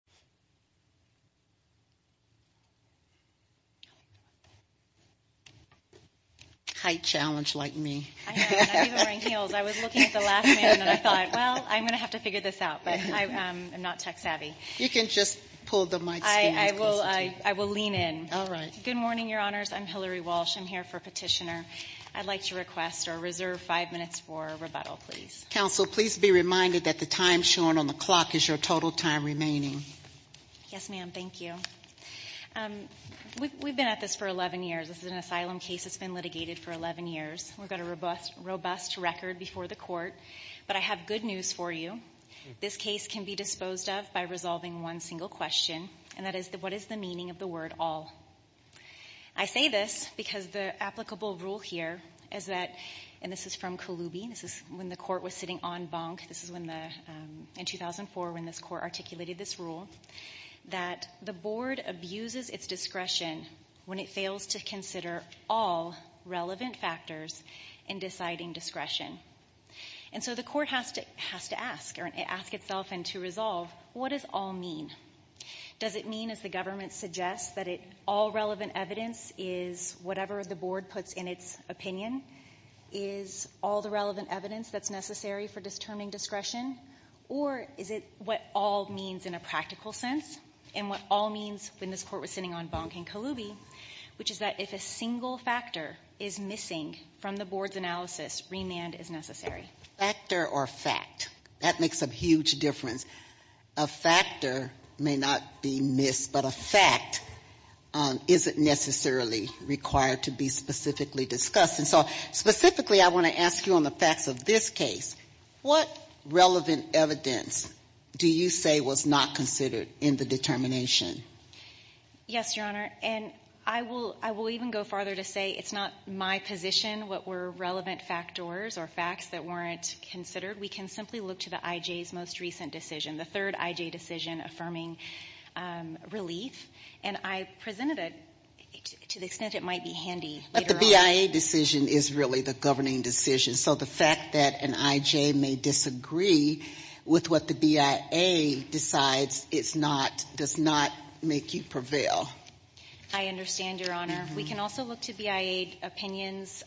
Good morning, Your Honors. I'm Hillary Walsh. I'm here for Petitioner. I'd like to request or reserve five minutes for rebuttal, please. Counsel, please be reminded that the time shown on the clock is your total time remaining. Yes, ma'am. Thank you. We've been at this for 11 years. This is an asylum case that's been litigated for 11 years. We've got a robust record before the court, but I have good news for you. This case can be disposed of by resolving one single question, and that is, what is the meaning of the word all? I say this because the applicable rule here is that, and this is from Kalubi, this is when the court was sitting en banc, this is in 2004 when this court articulated this rule, that the board abuses its discretion when it fails to consider all relevant factors in deciding discretion. And so the court has to ask, or ask itself and to resolve, what does all mean? Does it mean, as the government suggests, that all relevant evidence is whatever the board puts in its opinion? Is all the relevant evidence that's necessary for determining discretion? Or is it what all means in a practical sense, and what all means when this court was sitting en banc in Kalubi, which is that if a single factor is missing from the board's analysis, remand is necessary? Factor or fact. That makes a huge difference. A factor may not be missed, but a fact isn't necessarily required to be specifically discussed. And so, specifically, I want to ask you on the facts of this case. What relevant evidence do you say was not considered in the determination? Yes, Your Honor. And I will even go farther to say it's not my position what were relevant factors or facts that weren't considered. We can simply look to the I.J.'s most recent decision, the third I.J. decision affirming relief. And I presented it to the extent it might be handy. But the B.I.A. decision is really the governing decision. So the fact that an I.J. may disagree with what the B.I.A. decides does not make you prevail. I understand, Your Honor. We can also look to B.I.A. opinions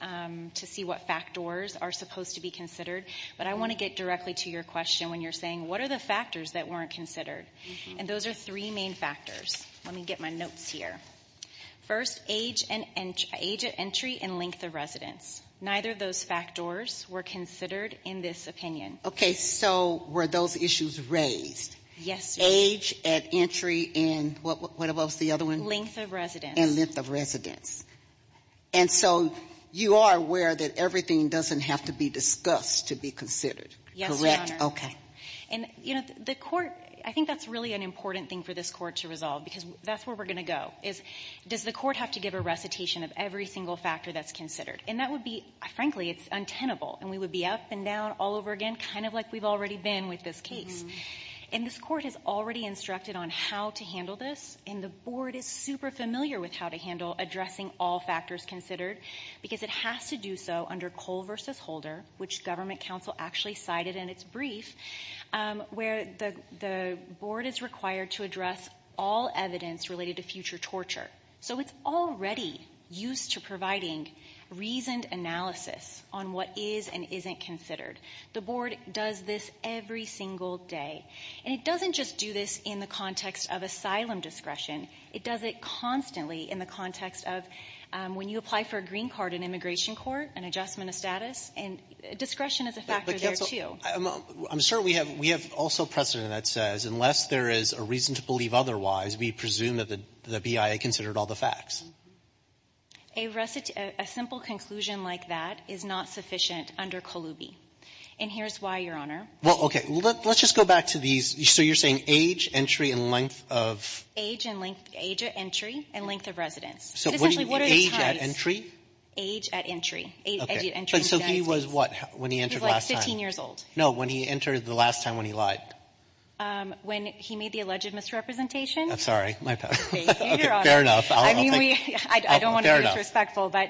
to see what factors are supposed to be considered. But I want to get directly to your question when you're saying, what are the factors that weren't considered? And those are three main factors. Let me get my notes here. First, age at entry and length of residence. Neither of those factors were considered in this opinion. Okay, so were those issues raised? Yes, Your Honor. Age at entry and what was the other one? Length of residence. And length of residence. And so you are aware that everything doesn't have to be discussed to be considered, correct? Yes, Your Honor. Okay. And, you know, the court, I think that's really an important thing for this court to resolve because that's where we're going to go. Is, does the court have to give a recitation of every single factor that's considered? And that would be, frankly, it's untenable. And we would be up and down all over again, kind of like we've already been with this case. And this court has already instructed on how to handle this. And the board is super familiar with how to handle addressing all factors considered because it has to do so under Cole v. Holder, which government counsel actually cited in its brief, where the board is required to address all evidence related to future torture. So it's already used to providing reasoned analysis on what is and isn't considered. The board does this every single day. And it doesn't just do this in the context of asylum discretion. It does it constantly in the context of when you apply for a green card in immigration court, an adjustment of status, and discretion is a factor there, too. But counsel, I'm sure we have also precedent that says unless there is a reason to believe otherwise, we presume that the BIA considered all the facts. A simple conclusion like that is not sufficient under Colubi. And here's why, Your Honor. Well, okay. Let's just go back to these. So you're saying age, entry, and length of? Age at entry and length of residence. Age at entry? Age at entry. Age at entry. So he was what when he entered last time? He was, like, 15 years old. No, when he entered the last time when he lied. When he made the alleged misrepresentation. I'm sorry. My bad. Fair enough. I don't want to be disrespectful, but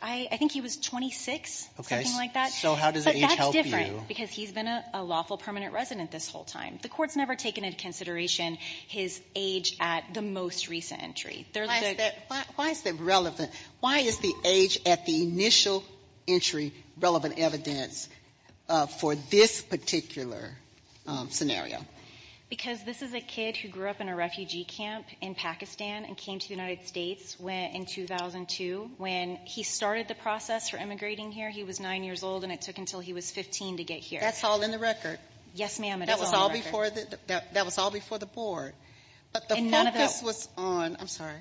I think he was 26, something like that. So how does age help you? But that's different because he's been a lawful permanent resident this whole time. The Court's never taken into consideration his age at the most recent entry. Why is that relevant? Why is the age at the initial entry relevant evidence for this particular scenario? Because this is a kid who grew up in a refugee camp in Pakistan and came to the United States in 2002. When he started the process for immigrating here, he was 9 years old, and it took until he was 15 to get here. That's all in the record. Yes, ma'am, it is all in the record. That was all before the board. But the focus was on, I'm sorry,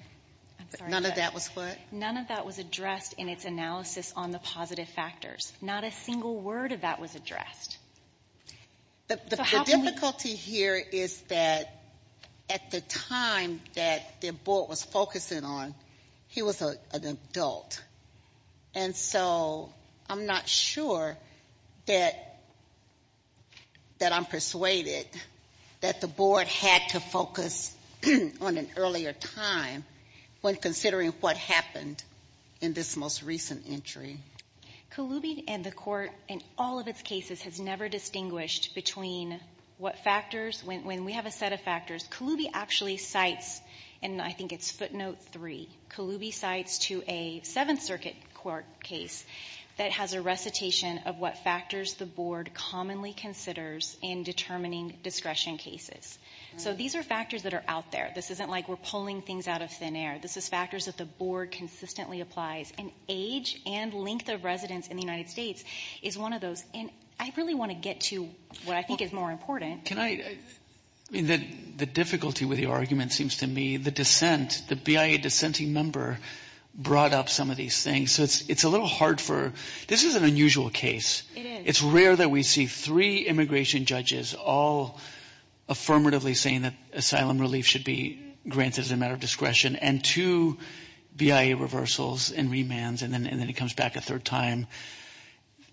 none of that was what? None of that was addressed in its analysis on the positive factors. Not a single word of that was addressed. The difficulty here is that at the time that the board was focusing on, he was an adult. And so I'm not sure that I'm persuaded that the board had to focus on an earlier time when considering what happened in this most recent entry. Kaloubi and the court in all of its cases has never distinguished between what factors, when we have a set of factors, Kaloubi actually cites, and I think it's footnote 3, Kaloubi cites to a Seventh Circuit court case that has a recitation of what factors the board commonly considers in determining discretion cases. So these are factors that are out there. This isn't like we're pulling things out of thin air. This is factors that the board consistently applies. And age and length of residence in the United States is one of those. And I really want to get to what I think is more important. Can I, I mean, the difficulty with your argument seems to me the dissent, the BIA dissenting member brought up some of these things. So it's a little hard for, this is an unusual case. It is. It's rare that we see three immigration judges all affirmatively saying that asylum relief should be granted as a matter of discretion and two BIA reversals and remands and then it comes back a third time.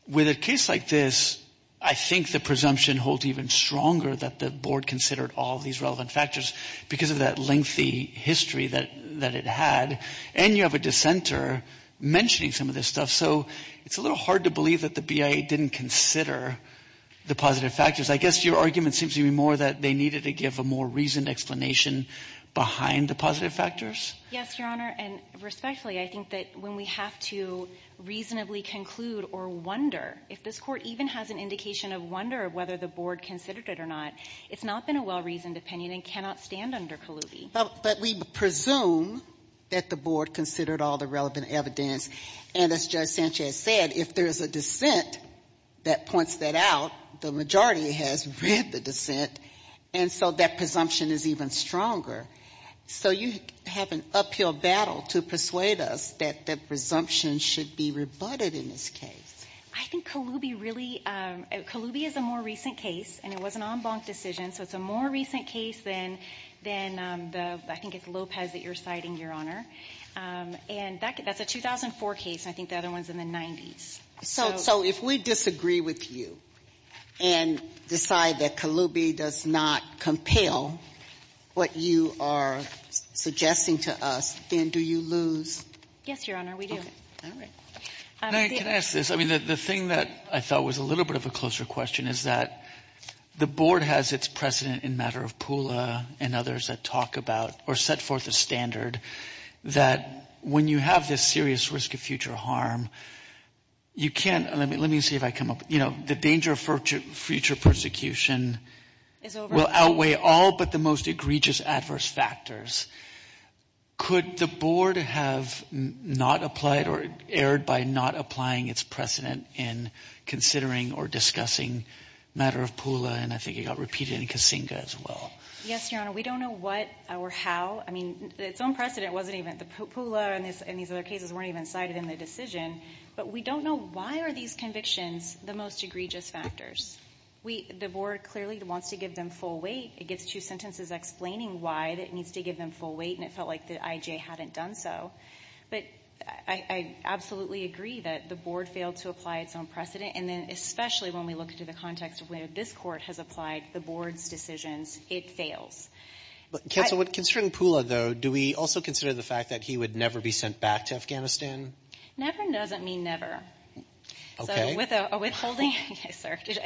With a case like this, I think the presumption holds even stronger that the board considered all of these relevant factors because of that lengthy history that it had. And you have a dissenter mentioning some of this stuff. So it's a little hard to believe that the BIA didn't consider the positive factors. I guess your argument seems to me more that they needed to give a more reasoned explanation behind the positive factors. Yes, Your Honor. And respectfully, I think that when we have to reasonably conclude or wonder, if this court even has an indication of wonder of whether the board considered it or not, it's not been a well-reasoned opinion and cannot stand under Kaluby. But we presume that the board considered all the relevant evidence. And as Judge Sanchez said, if there is a dissent that points that out, the majority has read the dissent. And so that presumption is even stronger. So you have an uphill battle to persuade us that the presumption should be rebutted in this case. I think Kaluby really, Kaluby is a more recent case and it was an en banc decision, so it's a more recent case than the, I think it's Lopez that you're citing, Your Honor. And that's a 2004 case and I think the other one's in the 90s. So if we disagree with you and decide that Kaluby does not compel what you are suggesting to us, then do you lose? Yes, Your Honor, we do. May I ask this? I mean, the thing that I thought was a little bit of a closer question is that the board has its precedent in matter of Pula and others that talk about or set forth a standard that when you have this serious risk of future harm, you can't, let me see if I come up, you know, the danger of future persecution will outweigh all but the most egregious adverse factors. Could the board have not applied or erred by not applying its precedent in considering or discussing matter of Pula and I think it got repeated in Kasinga as well. Yes, Your Honor, we don't know what or how. I mean, its own precedent wasn't even, the Pula and these other cases weren't even cited in the decision but we don't know why are these convictions the most egregious factors. The board clearly wants to give them full weight. It gets two sentences explaining why that it needs to give them full weight and it felt like the IJA hadn't done so. But I absolutely agree that the board failed to apply its own precedent and then especially when we look into the context of where this court has applied the board's decisions, it fails. Counsel, considering Pula though, do we also consider the fact that he would never be sent back to Afghanistan? Never doesn't mean never. Okay. So withholding,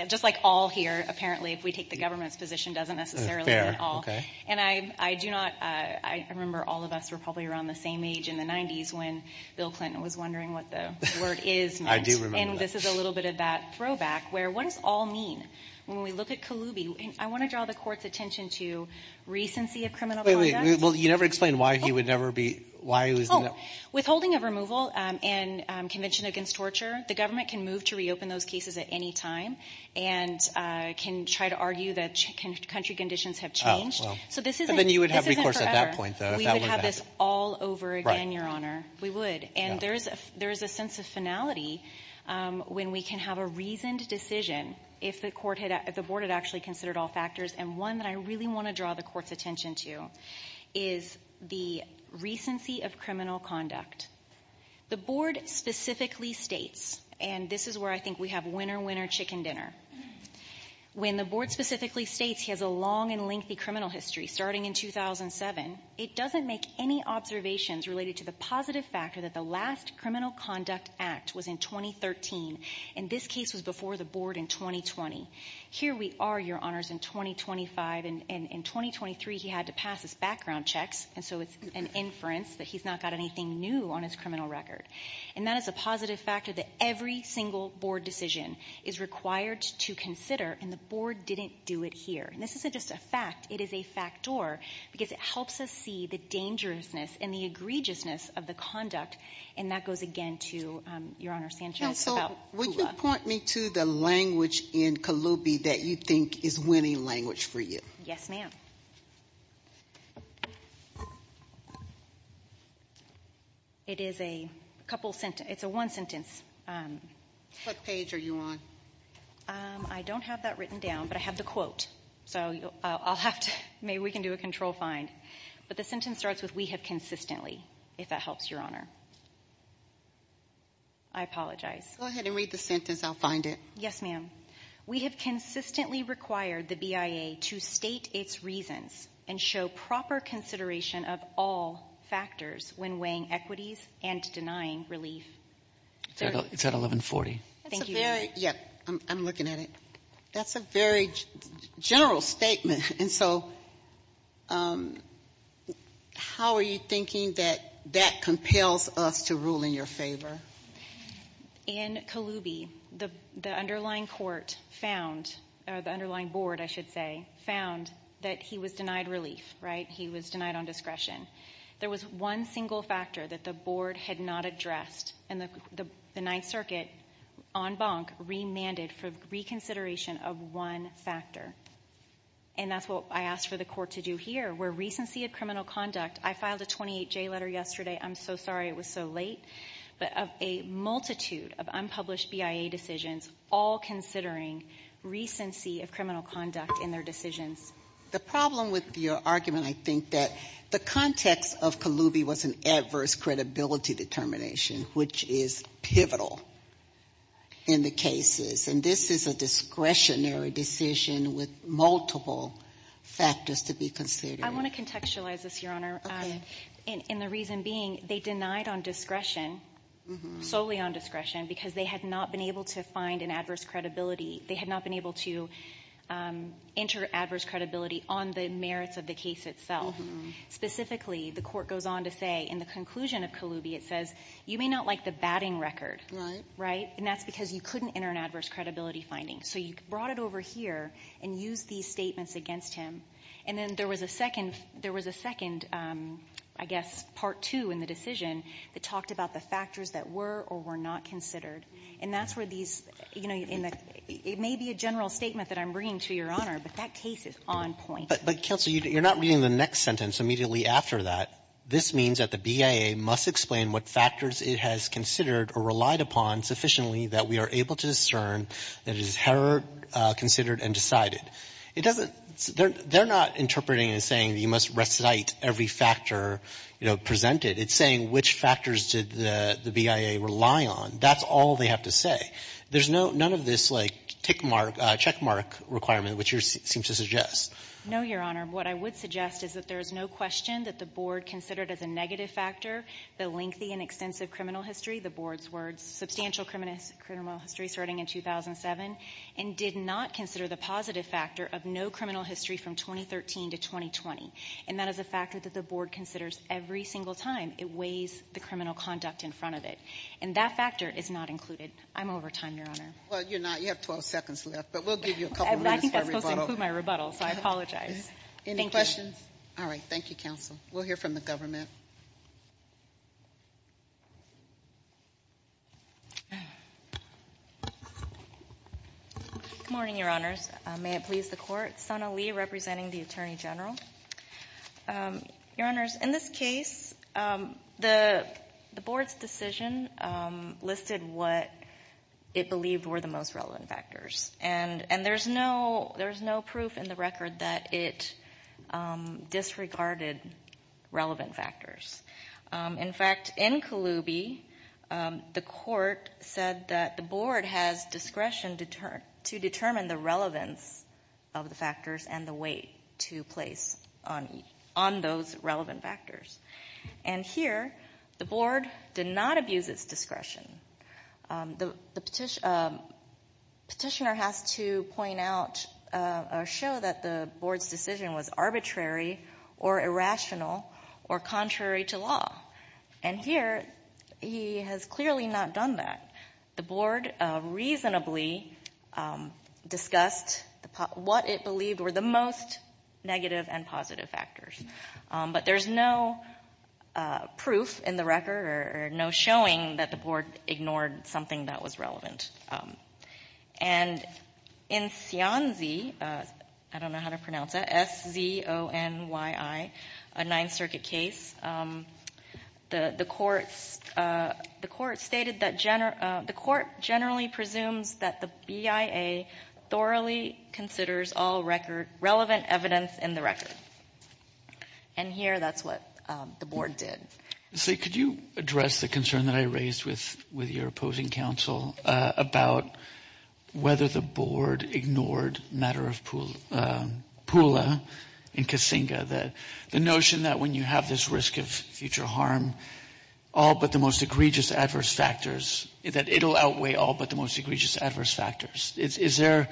just like all here, apparently if we take the government's position doesn't necessarily mean all. Fair, okay. And I do not, I remember all of us were probably around the same age in the 90s when Bill Clinton was wondering what the word is meant. I do remember that. And this is a little bit of that throwback where what does all mean? When we look at Kaloubi, I want to draw the court's attention to recency of criminal conduct. Well, you never explained why he would never be, why he was. Oh, withholding of removal and convention against torture. The government can move to reopen those cases at any time and can try to argue that country conditions have changed. So this isn't. And then you would have recourse at that point though. We would have this all over again, Your Honor. We would. And there is a sense of finality when we can have a reasoned decision if the court had, if the board had actually considered all factors and one that I really want to draw the court's attention to is the recency of criminal conduct. The board specifically states, and this is where I think we have winner, winner, chicken dinner. When the board specifically states he has a long and lengthy criminal history starting in 2007, it doesn't make any observations related to the positive factor that the last criminal conduct act was in 2013. And this case was before the board in 2020. Here we are, Your Honors, in 2025 and in 2023 he had to pass his background checks. And so it's an inference that he's not got anything new on his criminal record. And that is a positive factor that every single board decision is required to consider and the board didn't do it here. And this isn't just a fact. It is a factor because it helps us see the dangerousness and the egregiousness of the conduct. And that goes again to Your Honor Sanchez. Counsel, would you point me to the language in Kalupi that you think is winning language for you? Yes, ma'am. It is a couple, it's a one sentence. What page are you on? I don't have that written down, but I have the quote. So I'll have to, maybe we can do a control find. But the sentence starts with, we have consistently, if that helps, Your Honor. I apologize. Go ahead and read the sentence. I'll find it. Yes, ma'am. We have consistently required the BIA to state its reasons and show proper consideration of all factors when weighing equities and denying relief. It's at 1140. Thank you, Your Honor. That's a very, yep, I'm looking at it. That's a very general statement. And so how are you thinking that that compels us to rule in your favor? In Kalupi, the underlying court found, or the underlying board, I should say, found that he was denied relief. Right? He was denied on discretion. There was one single factor that the board had not addressed. And the Ninth Circuit, en banc, remanded for reconsideration of one factor. And that's what I asked for the court to do here, where recency of criminal conduct, I filed a 28J letter yesterday. I'm so sorry it was so late. But of a multitude of unpublished BIA decisions, all considering recency of criminal conduct in their decisions. The problem with your argument, I think that the context of Kalupi was an adverse credibility determination, which is pivotal in the cases. And this is a discretionary decision with multiple factors to be considered. I want to contextualize this, Your Honor. Okay. And the reason being, they denied on discretion, solely on discretion, because they had not been able to find an adverse credibility. They had not been able to enter adverse credibility on the merits of the case itself. Specifically, the court goes on to say in the conclusion of Kalupi, it says, you may not like the batting record. Right? And that's because you couldn't enter an adverse credibility finding. So you brought it over here and used these statements against him. And then there was a second, there was a second, I guess, part two in the decision that talked about the factors that were or were not considered. And that's where these, you know, it may be a general statement that I'm bringing to Your Honor, but that case is on point. But, Counsel, you're not reading the next sentence immediately after that. This means that the BIA must explain what factors it has considered or relied upon sufficiently that we are able to discern that it is considered and decided. It doesn't, they're not interpreting and saying you must recite every factor, you know, presented. It's saying which factors did the BIA rely on. That's all they have to say. There's no, none of this, like, tick mark, check mark requirement which you seem to suggest. No, Your Honor. What I would suggest is that there is no question that the Board considered as a negative factor the lengthy and extensive criminal history, the Board's words, substantial criminal history starting in 2007, and did not consider the positive factor of no criminal history from 2013 to 2020. And that is a factor that the Board considers every single time it weighs the criminal conduct in front of it. And that factor is not included. I'm over time, Your Honor. Well, you're not. You have 12 seconds left. But we'll give you a couple minutes for a rebuttal. I think that's supposed to include my rebuttal, so I apologize. Thank you. Any questions? All right. Thank you, Counsel. We'll hear from the Government. Good morning, Your Honors. May it please the Court? Sana Lee representing the Attorney General. Your Honors, in this case, the Board's decision listed what it believed were the most relevant factors. And there's no proof in the record that it disregarded relevant factors. In fact, in Kaloubi, the Court said that the Board has discretion to determine the relevance of the factors and the weight to place on those relevant factors. And here, the Board did not abuse its discretion. The petitioner has to point out or show that the Board's decision was arbitrary or irrational or contrary to law. And here, he has clearly not done that. The Board reasonably discussed what it believed were the most negative and positive factors. But there's no proof in the record or no showing that the Board ignored something that was relevant. And in Sionzi, I don't know how to pronounce that, S-Z-O-N-Y-I, a Ninth Circuit case, the Court stated that the Court generally presumes that the BIA thoroughly considers all relevant evidence in the record. And here, that's what the Board did. So could you address the concern that I raised with your opposing counsel about whether the Board ignored matter of Pula and Kasinga, the notion that when you have this risk of future harm, all but the most egregious adverse factors, that it'll outweigh all but the most egregious adverse factors. Is there,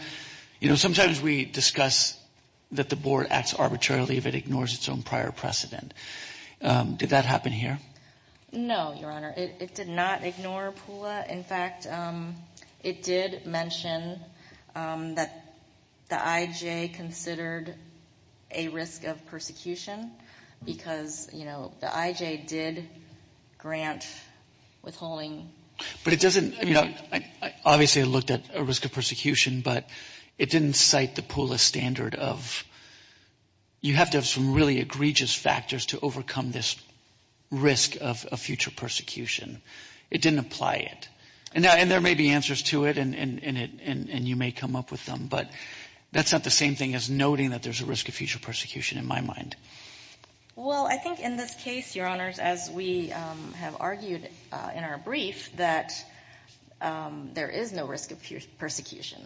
you know, sometimes we discuss that the Board acts arbitrarily if it ignores its own prior precedent. Did that happen here? No, Your Honor. It did not ignore Pula. In fact, it did mention that the IJ considered a risk of persecution because, you know, the IJ did grant withholding. But it doesn't, you know, obviously it looked at a risk of persecution, but it didn't cite the Pula standard of you have to have some really egregious factors to overcome this risk of future persecution. It didn't apply it. And there may be answers to it, and you may come up with them, but that's not the same thing as noting that there's a risk of future persecution in my mind. Well, I think in this case, Your Honors, as we have argued in our brief, that there is no risk of future persecution.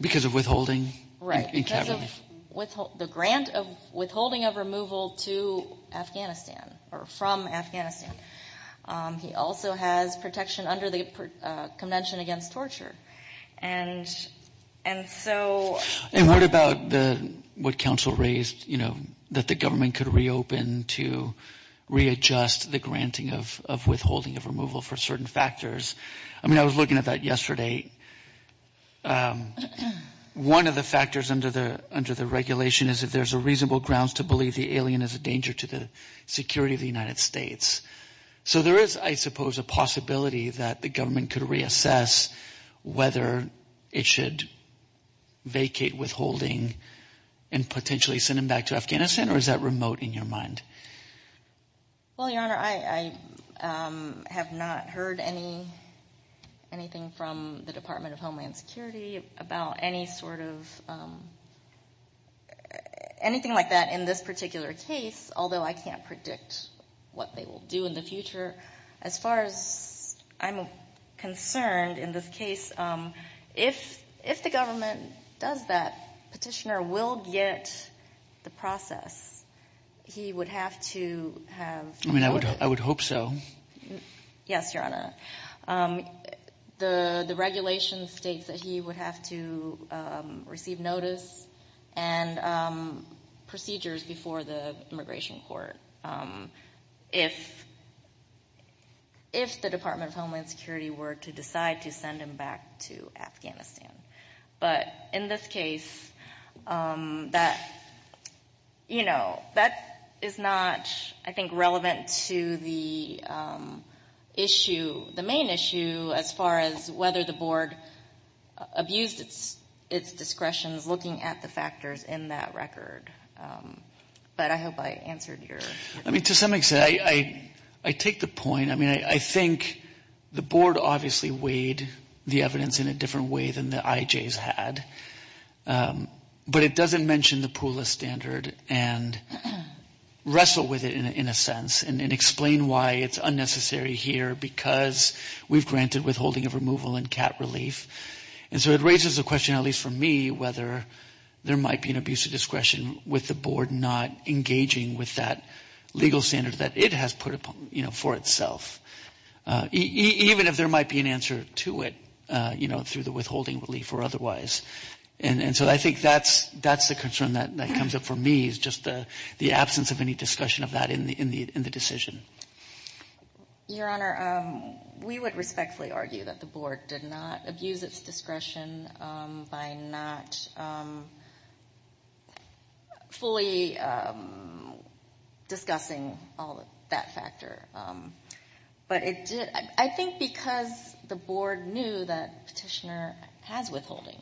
Because of withholding? Right. Because of the grant of withholding of removal to Afghanistan or from Afghanistan. He also has protection under the Convention Against Torture. And so... And what about what counsel raised, you know, that the government could reopen to readjust the granting of withholding of removal for certain factors? I mean, I was looking at that One of the factors under the regulation is if there's a reasonable grounds to believe the alien is a danger to the security of the United States. So there is, I suppose, a possibility that the government could reassess whether it should vacate withholding and potentially send him back to Afghanistan? Or is that remote in your mind? Well, Your Honor, I have not heard anything from the Department of Homeland Security about any sort of anything like that in this particular case, although I can't predict what they will do in the As far as I'm concerned in this case, if the government does that, Petitioner will get the process. He would have to have... I mean, I would hope so. Yes, Your Honor. The regulation states that he would have to receive notice and procedures before the Immigration Court if the Department of Homeland Security were to decide to send him back to Afghanistan. But in this case, that, you know, that is not, I think, relevant to the issue, the main issue as far as whether the Board abused its discretion in looking at the factors in that record. But I hope I answered your... I mean, to some extent. I take the point. I mean, I think the Board obviously weighed the evidence in a different way than the IJs had. But it doesn't mention the PULA standard and wrestle with it in a sense and explain why it's unnecessary here because we've granted withholding of removal and cap relief. And so it raises a question, at least for me, whether there might be an abuse of discretion with the Board not engaging with that legal standard that it has put upon, you know, for itself. Even if there might be an answer to it, you know, through the withholding relief or otherwise. And so I think that's the concern that comes up for me is just the absence of any discussion of that in the decision. Your Honor, we would respectfully argue that the Board did not abuse its discretion by not fully discussing all of that factor. But I think because the Board knew that Petitioner has withholding,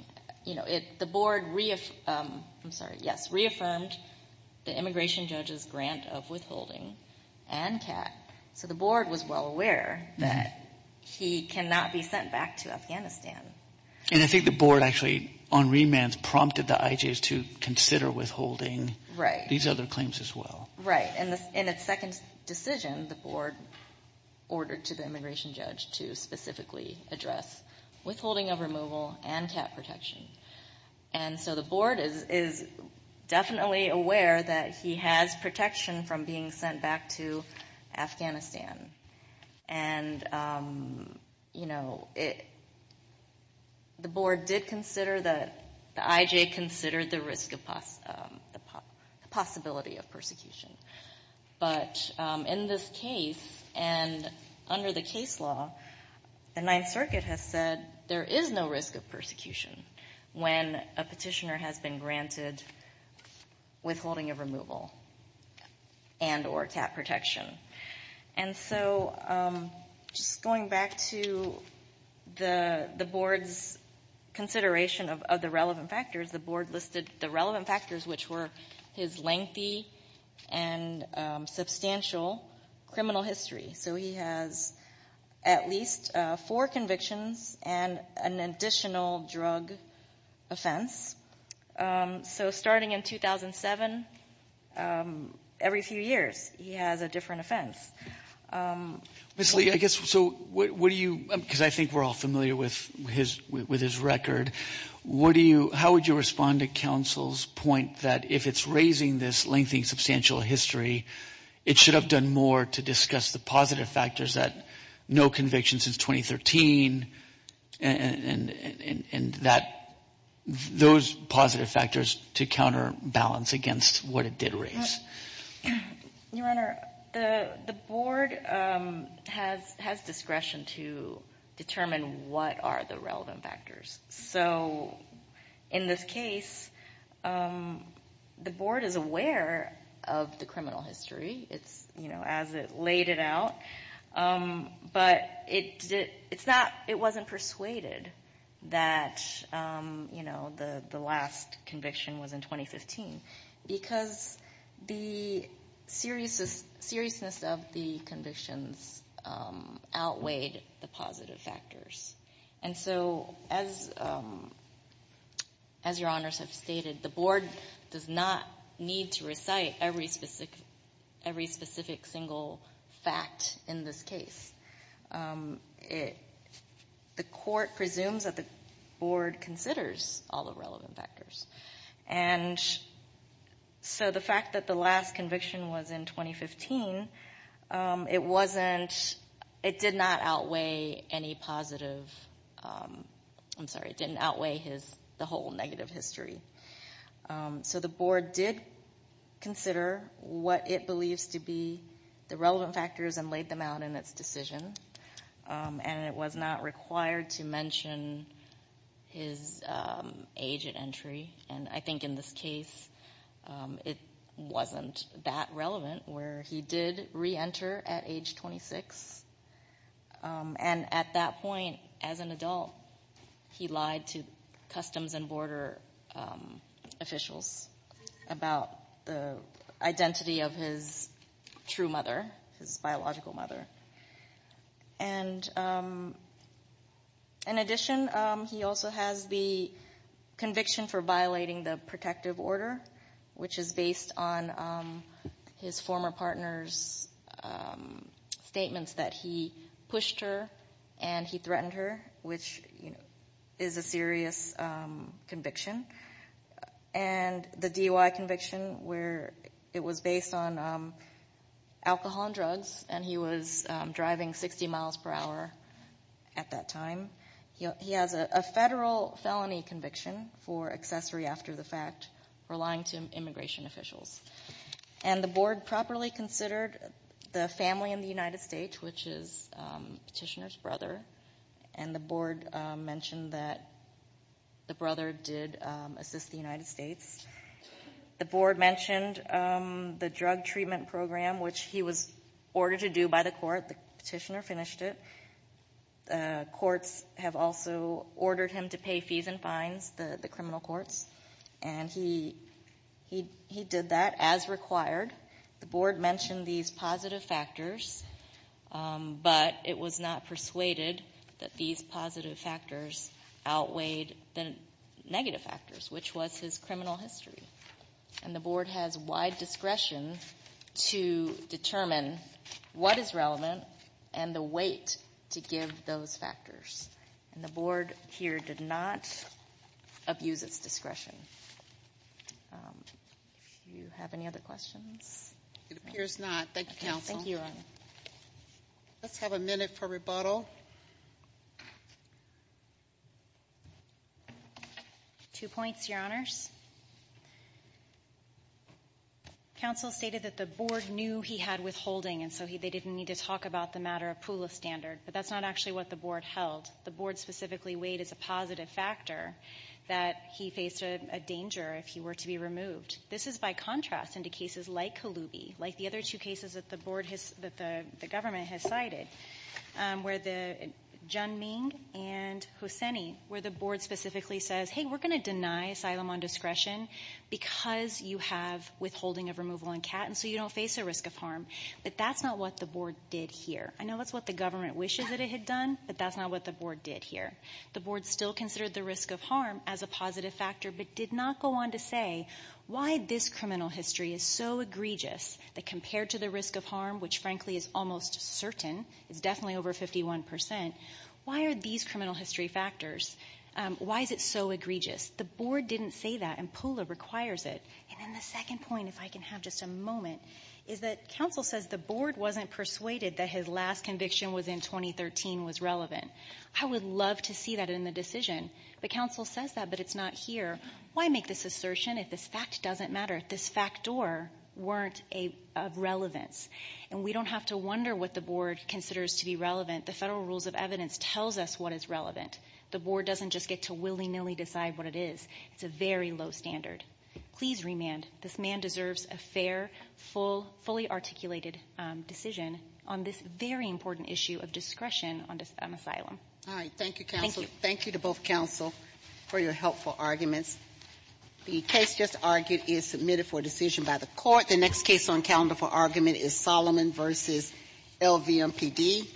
you know, the Board reaffirmed the immigration judge's grant of withholding and cap, so the Board was well aware that he cannot be sent back to Afghanistan. And I think the Board actually, on remand, prompted the IJs to consider withholding these other claims as well. Right. And in its second decision, the Board ordered to the immigration judge to specifically address withholding of removal and cap protection. And so the Board is definitely aware that he has protection from being sent back to Afghanistan. And, you know, the Board did consider that, the IJ considered the risk of, the possibility of But in this case, and under the case law, the Ninth Circuit has said there is no risk of persecution when a Petitioner has been granted withholding of removal and or cap protection. And so just going back to the Board's consideration of the relevant factors, the Board listed the relevant factors, which were his lengthy and substantial criminal history. So he has at least four convictions and an additional drug offense. So starting in 2007, every few years, he has a different offense. Ms. Lee, I guess, so what do you, because I think we're all familiar with his record, what do you, how would you respond to counsel's point that if it's raising this lengthy and substantial history, it should have done more to discuss the positive factors that no conviction since 2013 and that those positive factors to counterbalance against what it did raise. Your Honor, the Board has discretion to determine what are the relevant factors. So in this case, the Board is aware of the criminal history as it laid it out, but it wasn't persuaded that the last conviction was in 2015 because the seriousness of the convictions outweighed the positive factors. And so as your Honors have stated, the Board does not need to recite every specific single fact in this case. The Court presumes that the Board considers all the relevant factors. And so the fact that the last conviction was in 2015, it wasn't, it did not outweigh any positive, I'm sorry, it didn't outweigh the whole negative history. So the Board did consider what it believes to be the relevant factors and laid them out in its decision, and it was not required to mention his age at the time. And I think in this case, it wasn't that relevant where he did reenter at age 26. And at that point, as an adult, he lied to customs and border officials about the identity of his true mother, his biological mother. And in addition, he also has the conviction for violating the protective order, which is based on his former partner's statements that he pushed her and he threatened her, which is a serious conviction. And the DUI conviction where it was based on alcohol and drugs and he was driving 60 miles per hour at that time. He has a federal felony conviction for accessory after the fact, relying to immigration officials. And the Board properly considered the family in the United States, which is Petitioner's brother. And the Board mentioned that the brother did assist the United States. The Board mentioned the drug treatment program, which he was ordered to do by the court. The Petitioner finished it. The courts have also ordered him to pay fees and fines, the criminal courts. And he did that as required. The Board mentioned these positive factors, but it was not persuaded that these positive factors outweighed the negative factors, which was his criminal history. And the Board has wide discretion to determine what is appropriate. And the Board did not abuse its discretion. If you have any other questions? It appears not. Thank you, Counsel. Thank you, Your Honor. Let's have a minute for rebuttal. Two points, Your Honors. Counsel stated that the Board knew he had withholding, and so they didn't need to talk to him about it. The Board specifically weighed as a positive factor that he faced a danger if he were to be removed. This is by contrast into cases like Kaloubi, like the other two cases that the Government has cited, where the board specifically says, hey, we're going to deny asylum on discretion because you have withholding of removal on CAT, and so you don't face a risk of But that's not what the Board did here. I know that's what the Government wishes that it had done, but that's not what the Board did here. The Board still considered the risk of harm as a positive factor, but did not go on to say why this criminal history is so egregious that compared to the risk of harm, which frankly is almost certain, it's definitely over 51%, why are these criminal history factors, why is it so egregious? The Board didn't say that, and Pula requires it. And then the second point, if I can have just a moment, is that Counsel says the Board wasn't persuaded that his last conviction was in 2013 was relevant. I would love to see that in the decision, but Counsel says that, but it's not here. Why make this assertion if this fact doesn't matter, if this fact or weren't of relevance? And we don't have to wonder what the Board considers to be The Federal Rules of Evidence tells us what is relevant. The Board doesn't just get to willy-nilly decide what it is. It's a very low standard. Please remand. This man deserves a fair, full, articulated decision on this very important issue of discretion on asylum. All right. Thank you, Counsel. Thank you. Thank you to both Counsel for your helpful arguments. The case just argued is submitted for decision by the Court. The next case on calendar for argument is Solomon v. LVMPD.